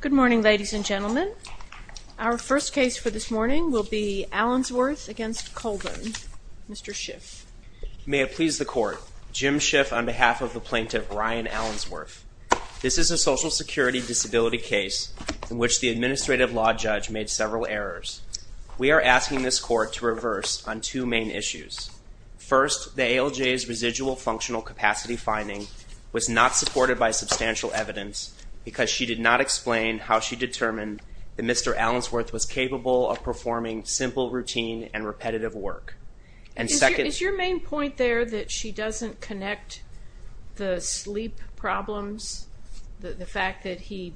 Good morning ladies and gentlemen. Our first case for this morning will be Allensworth v. Colvin. Mr. Schiff. May it please the court, Jim Schiff on behalf of the plaintiff Ryan Allensworth. This is a social security disability case in which the administrative law judge made several errors. We are asking this court to reverse on two main issues. First, the ALJ's residual functional capacity finding was not supported by substantial evidence because she did not explain how she determined that Mr. Allensworth was capable of performing simple routine and repetitive work. And second... Is your main point there that she doesn't connect the sleep problems, the fact that he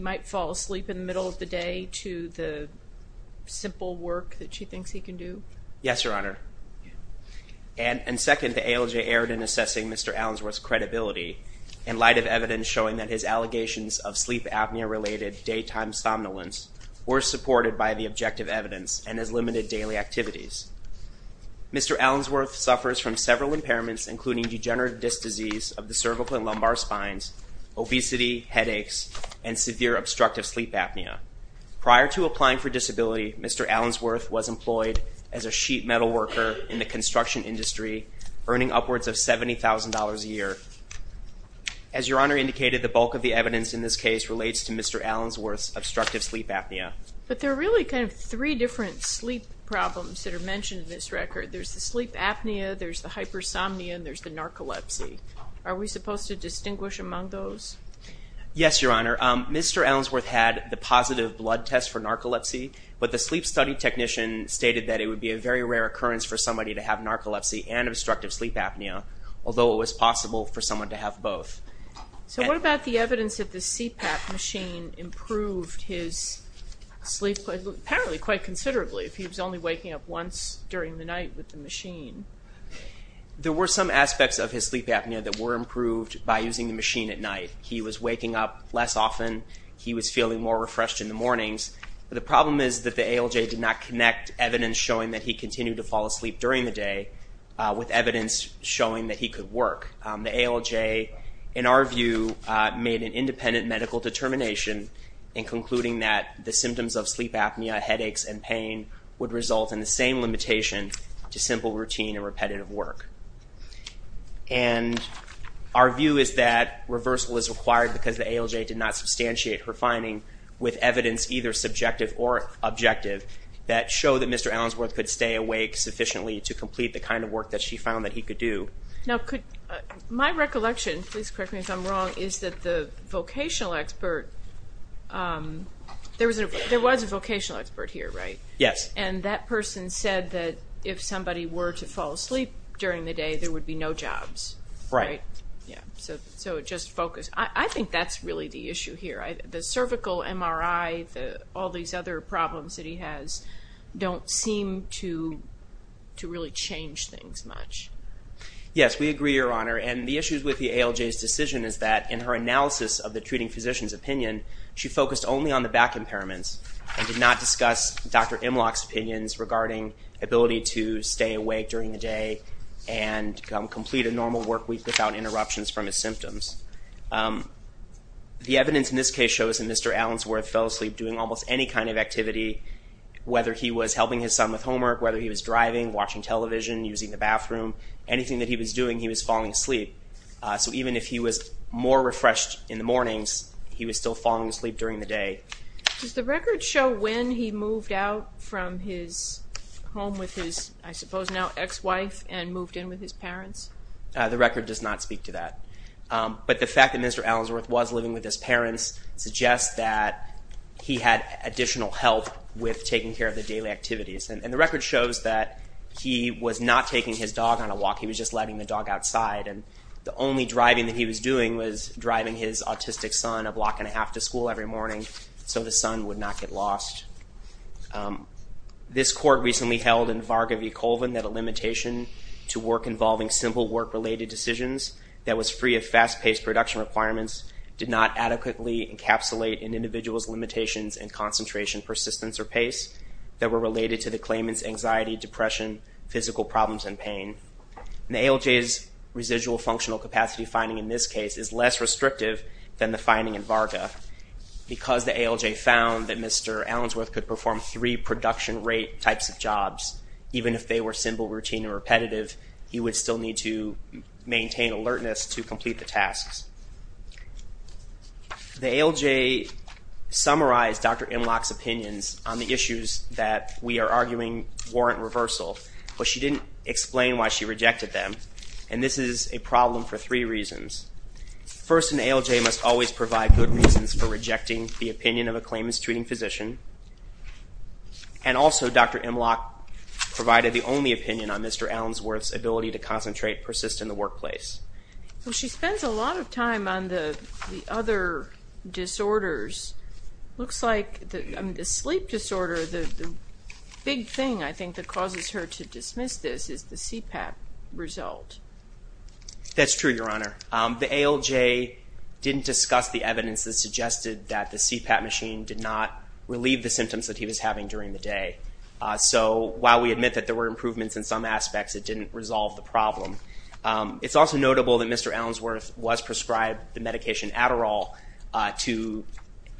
might fall asleep in the middle of the day to the simple work that she thinks he can do? Yes, Your Honor. And second, the ALJ erred in assessing Mr. Allensworth's credibility in light of evidence showing that his allegations of sleep apnea-related daytime somnolence were supported by the objective evidence and his limited daily activities. Mr. Allensworth suffers from several impairments including degenerative disc disease of the cervical and lumbar spines, obesity, headaches, and severe obstructive sleep apnea. Prior to applying for disability, Mr. Allensworth was employed as a sheet metal worker in the construction industry, earning upwards of $70,000 a year. As Your Honor indicated, the bulk of the evidence in this case relates to Mr. Allensworth's obstructive sleep apnea. But there are really kind of three different sleep problems that are mentioned in this record. There's the sleep apnea, there's the hypersomnia, and there's the narcolepsy. Are we supposed to distinguish among those? Yes, Your Honor. Mr. Allensworth had the positive blood test for narcolepsy, but the sleep study technician stated that it would be a very rare occurrence for somebody to have narcolepsy and obstructive sleep apnea, although it was possible for someone to have both. So what about the evidence that the CPAP machine improved his sleep, apparently quite considerably, if he was only waking up once during the night with the machine? There were some aspects of his sleep apnea that were improved by using the machine at night. He was waking up less often. He was able to connect evidence showing that he continued to fall asleep during the day with evidence showing that he could work. The ALJ, in our view, made an independent medical determination in concluding that the symptoms of sleep apnea, headaches, and pain would result in the same limitation to simple routine and repetitive work. And our view is that reversal is required because the ALJ did not substantiate her finding with evidence either subjective or objective that show that Mr. Allensworth could stay awake sufficiently to complete the kind of work that she found that he could do. Now could, my recollection, please correct me if I'm wrong, is that the vocational expert, there was a vocational expert here, right? Yes. And that person said that if somebody were to fall asleep during the day, there would be no jobs. Right. Yeah, so just focus. I think that's really the issue here. The cervical MRI, all these other problems that he has don't seem to really change things much. Yes, we agree, Your Honor. And the issues with the ALJ's decision is that in her analysis of the treating physician's opinion, she focused only on the back impairments and did not discuss Dr. Imlock's opinions regarding ability to stay awake during the day and complete a normal work week without interruptions from his symptoms. The evidence in this case shows that Mr. Allensworth fell asleep doing almost any kind of activity, whether he was helping his son with homework, whether he was driving, watching television, using the bathroom, anything that he was doing, he was falling asleep. So even if he was more refreshed in the mornings, he was still falling asleep during the day. Does the record show when he moved out from his home with his, I suppose now ex-wife, and moved in with his parents? The record does not speak to that. But the fact that Mr. Allensworth was living with his parents suggests that he had additional help with taking care of the daily activities. And the record shows that he was not taking his dog on a walk. He was just letting the dog outside. And the only driving that he was doing was driving his autistic son a block and a half to school every morning so the son would not get lost. This court recently held in Varga v. Colvin that a limitation to work involving simple work-related decisions that was free of fast-paced production requirements did not adequately encapsulate an individual's limitations in concentration, persistence, or pace that were related to the claimant's anxiety, depression, physical problems, and pain. The ALJ's residual functional capacity finding in this case is less restrictive than the finding in Varga because the ALJ found that Mr. Allensworth could perform three production rate types of jobs even if they were simple, routine, and repetitive. He would still need to maintain alertness to complete the tasks. The ALJ summarized Dr. Imlock's opinions on the issues that we are arguing warrant reversal, but she didn't explain why she rejected them. And this is a problem for three reasons. First, an ALJ must always provide reasons for rejecting the opinion of a claimant's treating physician. And also, Dr. Imlock provided the only opinion on Mr. Allensworth's ability to concentrate, persist in the workplace. Well, she spends a lot of time on the other disorders. Looks like the sleep disorder, the big thing I think that causes her to dismiss this is the CPAP result. That's true, Your Honor. The ALJ didn't discuss the evidence that suggested that the CPAP machine did not relieve the symptoms that he was having during the day. So while we admit that there were improvements in some aspects, it didn't resolve the problem. It's also notable that Mr. Allensworth was prescribed the medication Adderall to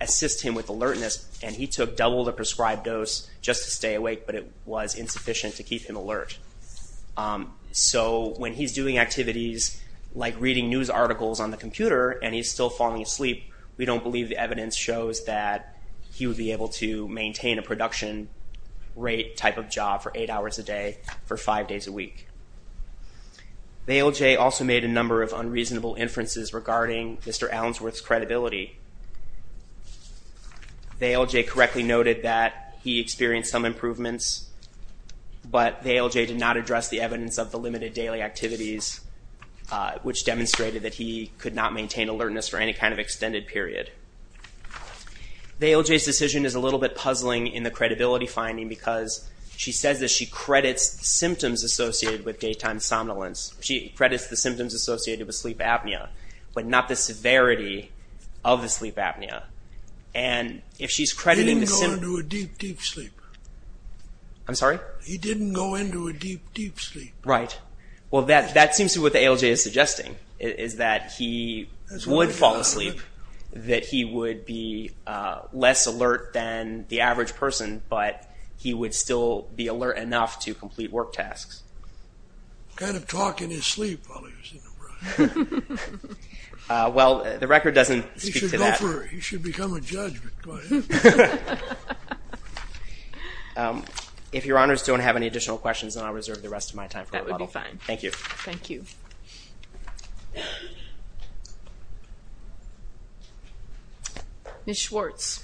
assist him with alertness, and he took double the prescribed dose just to stay awake, but it was insufficient to keep him alert. So when he's doing activities like reading news articles on the computer and he's still falling asleep, we don't believe the evidence shows that he would be able to maintain a production rate type of job for eight hours a day for five days a week. The ALJ also made a number of unreasonable inferences regarding Mr. Allensworth's sleep. The ALJ correctly noted that he experienced some improvements, but the ALJ did not address the evidence of the limited daily activities, which demonstrated that he could not maintain alertness for any kind of extended period. The ALJ's decision is a little bit puzzling in the credibility finding because she says that she credits the symptoms associated with daytime somnolence. She credits the symptoms associated with sleep apnea, but not the severity of the sleep apnea, and if she's crediting... He didn't go into a deep, deep sleep. I'm sorry? He didn't go into a deep, deep sleep. Right. Well that seems to be what the ALJ is suggesting, is that he would fall asleep, that he would be less alert than the average person, but he would still be alert enough to complete work tasks. Kind of He should become a judge, but go ahead. If your honors don't have any additional questions, then I'll reserve the rest of my time for rebuttal. That would be fine. Thank you. Thank you. Ms. Schwartz.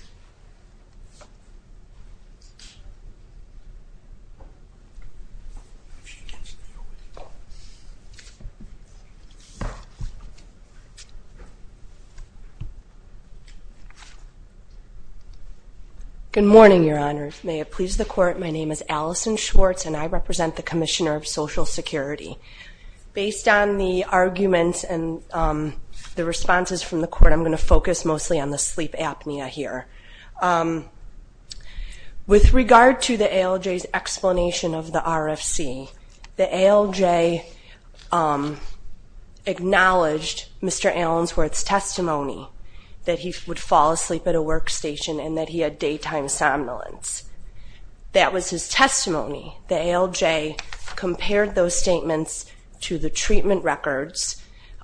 Good morning, your honors. May it please the court, my name is Allison Schwartz and I represent the Commissioner of Social Security. Based on the arguments and the responses from the court, I'm going to focus mostly on the sleep apnea here. With regard to the ALJ's explanation of the RFC, the ALJ acknowledged Mr. Allensworth's testimony that he would fall asleep at a workstation and that he had daytime somnolence. That was his testimony. The ALJ compared those statements to the treatment records,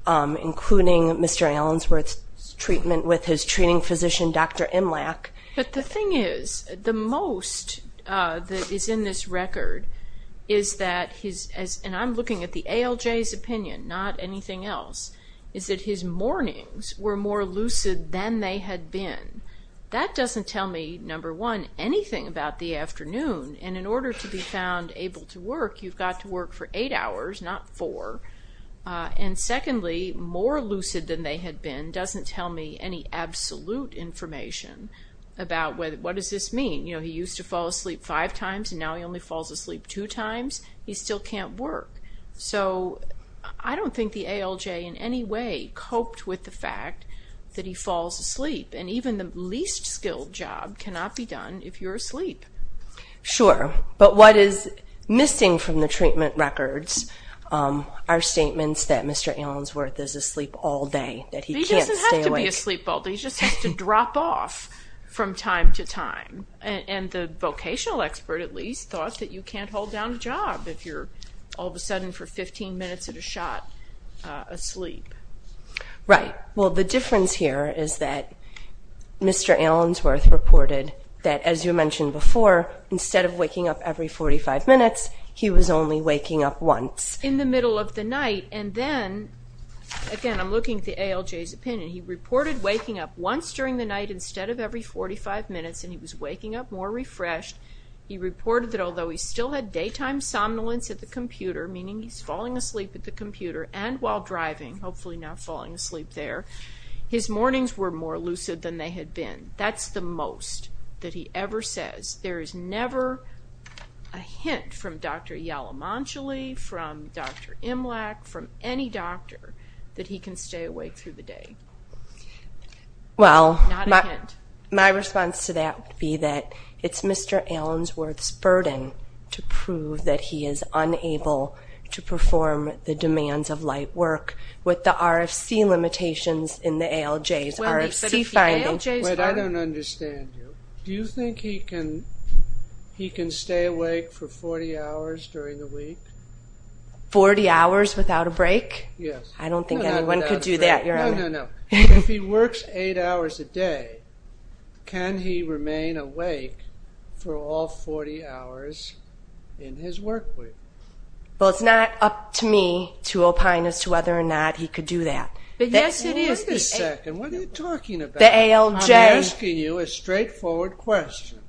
including Mr. Allensworth's treatment with his treating physician, Dr. Imlach. But the thing is, the most that is in this record is that his, and I'm looking at the ALJ's opinion, not anything else, is that his mornings were more lucid than they had been. That doesn't tell me, number one, anything about the afternoon, and in order to be found able to work, you've got to work for eight hours, not four. And secondly, more lucid than they had been doesn't tell me any absolute information about what does this mean. You know, he used to fall asleep five times and now he only falls asleep two times, he still can't work. So I don't think the ALJ in any way coped with the fact that he falls asleep, and even the least skilled job cannot be done if you're asleep. Sure, but what is missing from the treatment records are statements that Mr. Allensworth is asleep all day, that he can't stay awake. He doesn't have to be asleep all day, he just has to drop off from time to time. And the vocational expert, at least, thought that you can't hold down a job if you're all of a sudden for 15 minutes at a shot asleep. Right. Well, the difference here is that Mr. Allensworth reported that, as you mentioned before, instead of waking up every 45 minutes, he was only waking up once. In the middle of the night, and then, again, I'm looking at the ALJ's opinion, he reported waking up once during the night instead of every 45 minutes, and he was waking up more refreshed, he reported that although he still had daytime somnolence at the computer, meaning he's falling asleep at the computer and while driving, hopefully not falling asleep there, his mornings were more lucid than they had been. That's the most that he ever says. There is never a hint from Dr. Yalamanchili, from Dr. Imlach, from any doctor, that he can stay awake through the day. Well, my response to that would be that it's Mr. Allensworth's burden to prove that he is unable to perform the demands of light work with the RFC limitations in the ALJ's RFC findings. Wait, I don't understand you. Do you think he can stay awake for 40 hours during the week? 40 hours without a break? Yes. I don't think anyone could do that. No, no, no. If he works eight hours a day, can he remain awake for all 40 hours in his work week? Well, it's not up to me to opine as to whether or not he could do that. But, yes, it is. Wait a second. What are you talking about? The ALJ. I'm asking you a straightforward question.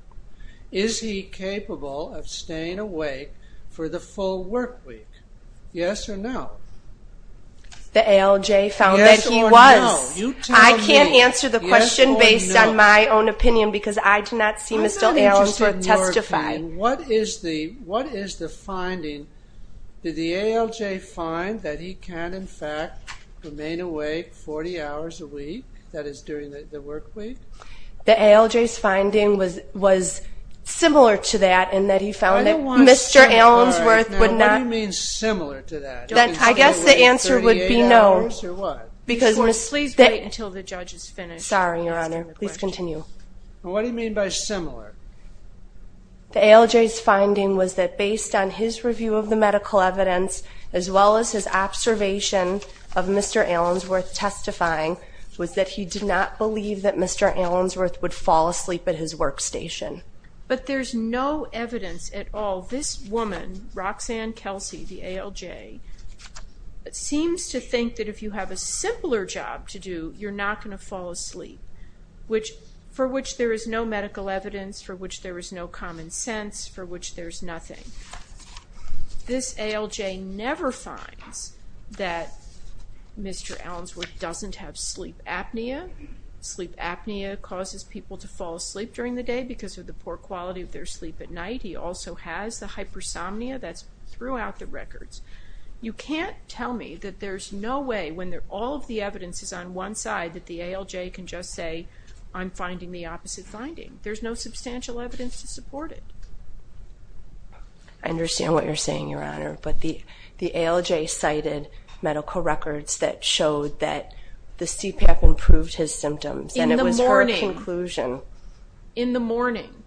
Is he capable of staying awake for the full work week? Yes or no? The ALJ found that he was. Yes or no? You tell me. I can't answer the question based on my own opinion because I do not see Mr. Allensworth testify. What is the finding? Did the ALJ find that he can, in fact, remain awake 40 hours a week, that is, during the work week? The ALJ's finding was similar to that in that he found that Mr. Allensworth would not. What do you mean similar to that? I guess the answer would be no. Similar to what? Because. Please wait until the judge is finished. Sorry, Your Honor. Please continue. What do you mean by similar? The ALJ's finding was that, based on his review of the medical evidence, as well as his observation of Mr. Allensworth testifying, was that he did not believe that Mr. Allensworth would fall asleep at his workstation. But there's no evidence at all. This woman, Roxanne Kelsey, the ALJ, seems to think that if you have a simpler job to do, you're not going to fall asleep, which, for which there is no medical evidence, for which there is no common sense, for which there's nothing. This ALJ never finds that Mr. Allensworth doesn't have sleep apnea. Sleep apnea causes people to fall asleep during the day because of the poor quality of their sleep at night. He also has the hypersomnia that's throughout the records. You can't tell me that there's no way, when all of the evidence is on one side, that the ALJ can just say, I'm finding the opposite finding. There's no substantial evidence to support it. I understand what you're saying, Your Honor, but the ALJ cited medical records that showed that the CPAP improved his symptoms, and it was her conclusion. In the morning. In the morning.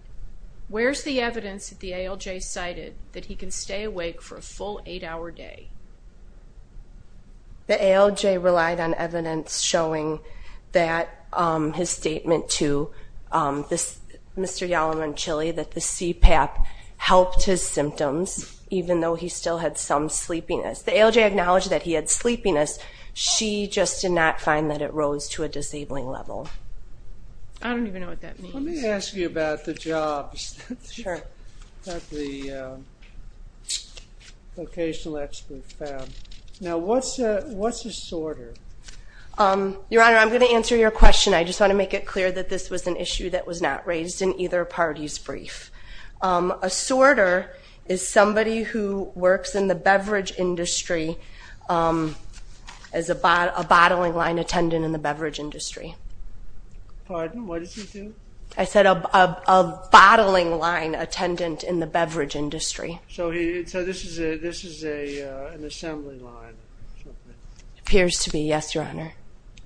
Where's the evidence that the ALJ cited that he can stay awake for a full eight-hour day? The ALJ relied on evidence showing that his statement to Mr. Yalom and Chilly that the CPAP helped his symptoms, even though he still had some sleepiness. The ALJ acknowledged that he had sleepiness. She just did not find that it rose to a disabling level. I don't even know what that means. Let me ask you about the jobs that the vocational experts found. Now, what's a sorter? Your Honor, I'm going to answer your question. I just want to make it clear that this was an issue that was not raised in either party's brief. A sorter is somebody who works in the beverage industry as a bottling line attendant in the beverage industry. Pardon? What does he do? I said a bottling line attendant in the beverage industry. This is an assembly line. It appears to be, yes, Your Honor.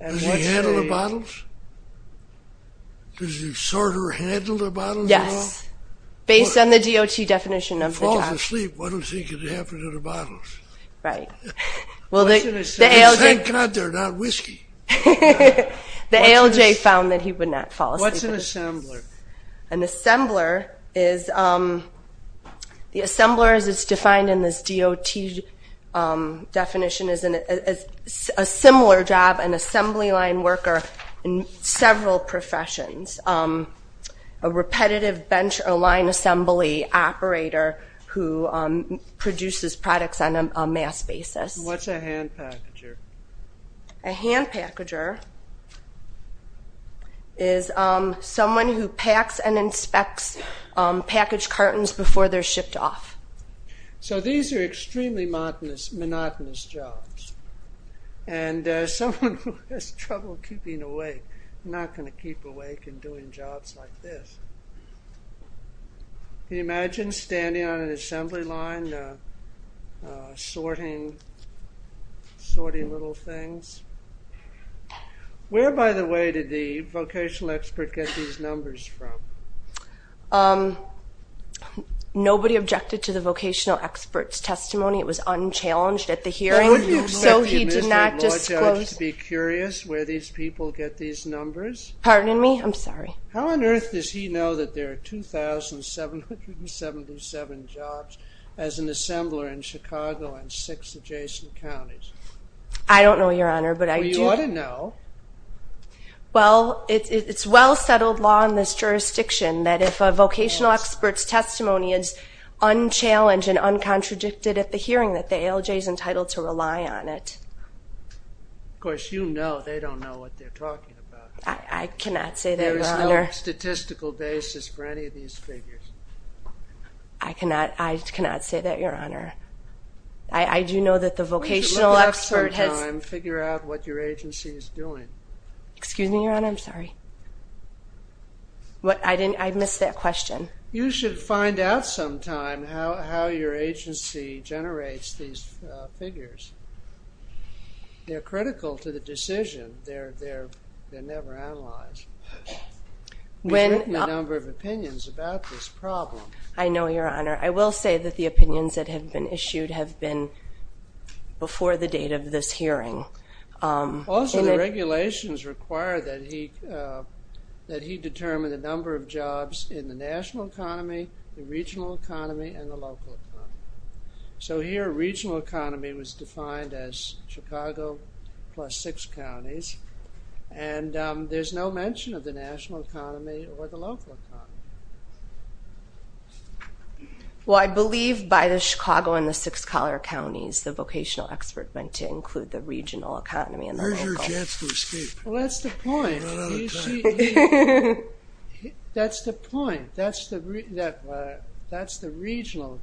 Does he handle the bottles? Does the sorter handle the bottles at all? Based on the DOT definition of the job. If he falls asleep, what do you think could happen to the bottles? Right. Well, thank God they're not whiskey. The ALJ found that he would not fall asleep. What's an assembler? An assembler is, the assembler as it's defined in this DOT definition is a similar job, an assembly line worker in several professions. A repetitive bench or line assembly operator who produces products on a mass basis. What's a hand packager? A hand packager is someone who packs and inspects package cartons before they're shipped off. These are extremely monotonous jobs. Someone who has trouble keeping awake, not going to keep awake in doing jobs like this. Can you imagine standing on an assembly line, sorting little things? Where, by the way, did the vocational expert get these numbers from? Nobody objected to the vocational expert's testimony. It was unchallenged at the hearing, so he did not disclose. Don't you expect your Mr. Law Judge to be curious where these people get these numbers? Pardon me? I'm sorry. How on earth does he know that there are 2,777 jobs as an assembler in Chicago and six adjacent counties? I don't know, Your Honor, but I do. Well, you ought to know. Well, it's well settled law in this jurisdiction that if a vocational expert's testimony is unchallenged and uncontradicted at the hearing that the ALJ is entitled to rely on it. Of course, you know they don't know what they're talking about. I cannot say that, Your Honor. There is no statistical basis for any of these figures. I cannot say that, Your Honor. I do know that the vocational expert has... You should look it up sometime and figure out what your agency is doing. Excuse me, Your Honor? I'm sorry. I missed that question. You should find out sometime how your agency generates these figures. They're critical to the decision. They're never analyzed. We've written a number of opinions about this problem. I know, Your Honor. I will say that the opinions that have been issued have been before the date of this hearing. Also, the regulations require that he determine the number of jobs in the national economy, the regional economy, and the local economy. So here, regional economy was defined as Chicago plus six counties, and there's no mention of the national economy or the local economy. Well, I believe by the Chicago and the six collar counties, the vocational expert meant to include the regional economy and the local. Where's your chance to escape? Well, that's the point. We're running out of time. That's the point. That's the regional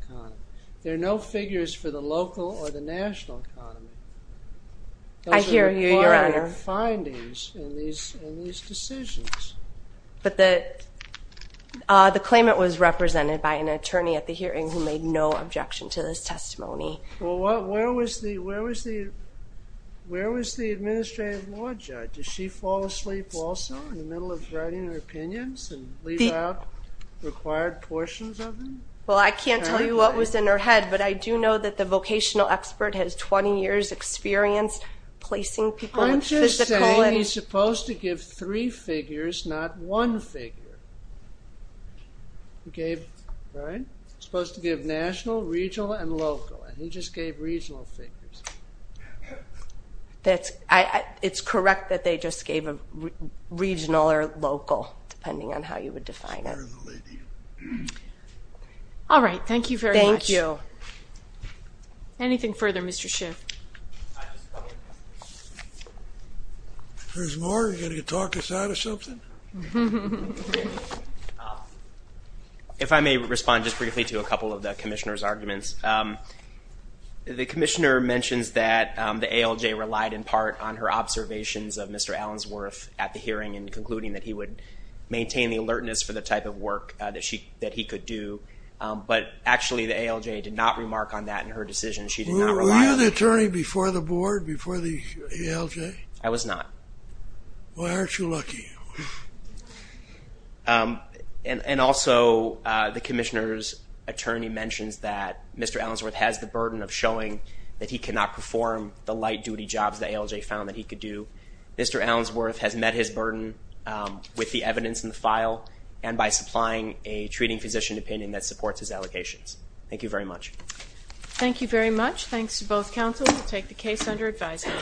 economy. I hear you, Your Honor. Findings in these decisions. But the claimant was represented by an attorney at the hearing who made no objection to this testimony. Well, where was the administrative law judge? Did she fall asleep also in the middle of writing her opinions and leave out required portions of them? Well, I can't tell you what was in her head, but I do know that the vocational expert has 20 years' experience placing people. I'm just saying he's supposed to give three figures, not one figure. He gave, right? Supposed to give national, regional, and local, and he just gave regional figures. It's correct that they just gave a regional or local, depending on how you would define it. All right. Thank you very much. Thank you. Anything further, Mr. Schiff? If there's more, are you going to talk us out of something? If I may respond just briefly to a couple of the commissioner's arguments, the commissioner mentions that the ALJ relied in part on her observations of Mr. Allensworth at the hearing and concluding that he would maintain the alertness for the type of work that he could do. But actually, the ALJ did not remark on that in her decision. She did not rely on it. Were you an attorney before the board, before the ALJ? I was not. Well, aren't you lucky? And also, the commissioner's attorney mentions that Mr. Allensworth has the burden of showing that he cannot perform the light-duty jobs the ALJ found that he could do. Mr. Allensworth has met his burden with the evidence in the file and by supplying a treating physician opinion that supports his allocations. Thank you very much. Thank you very much. Thanks to both counsels. We'll take the case under advisory.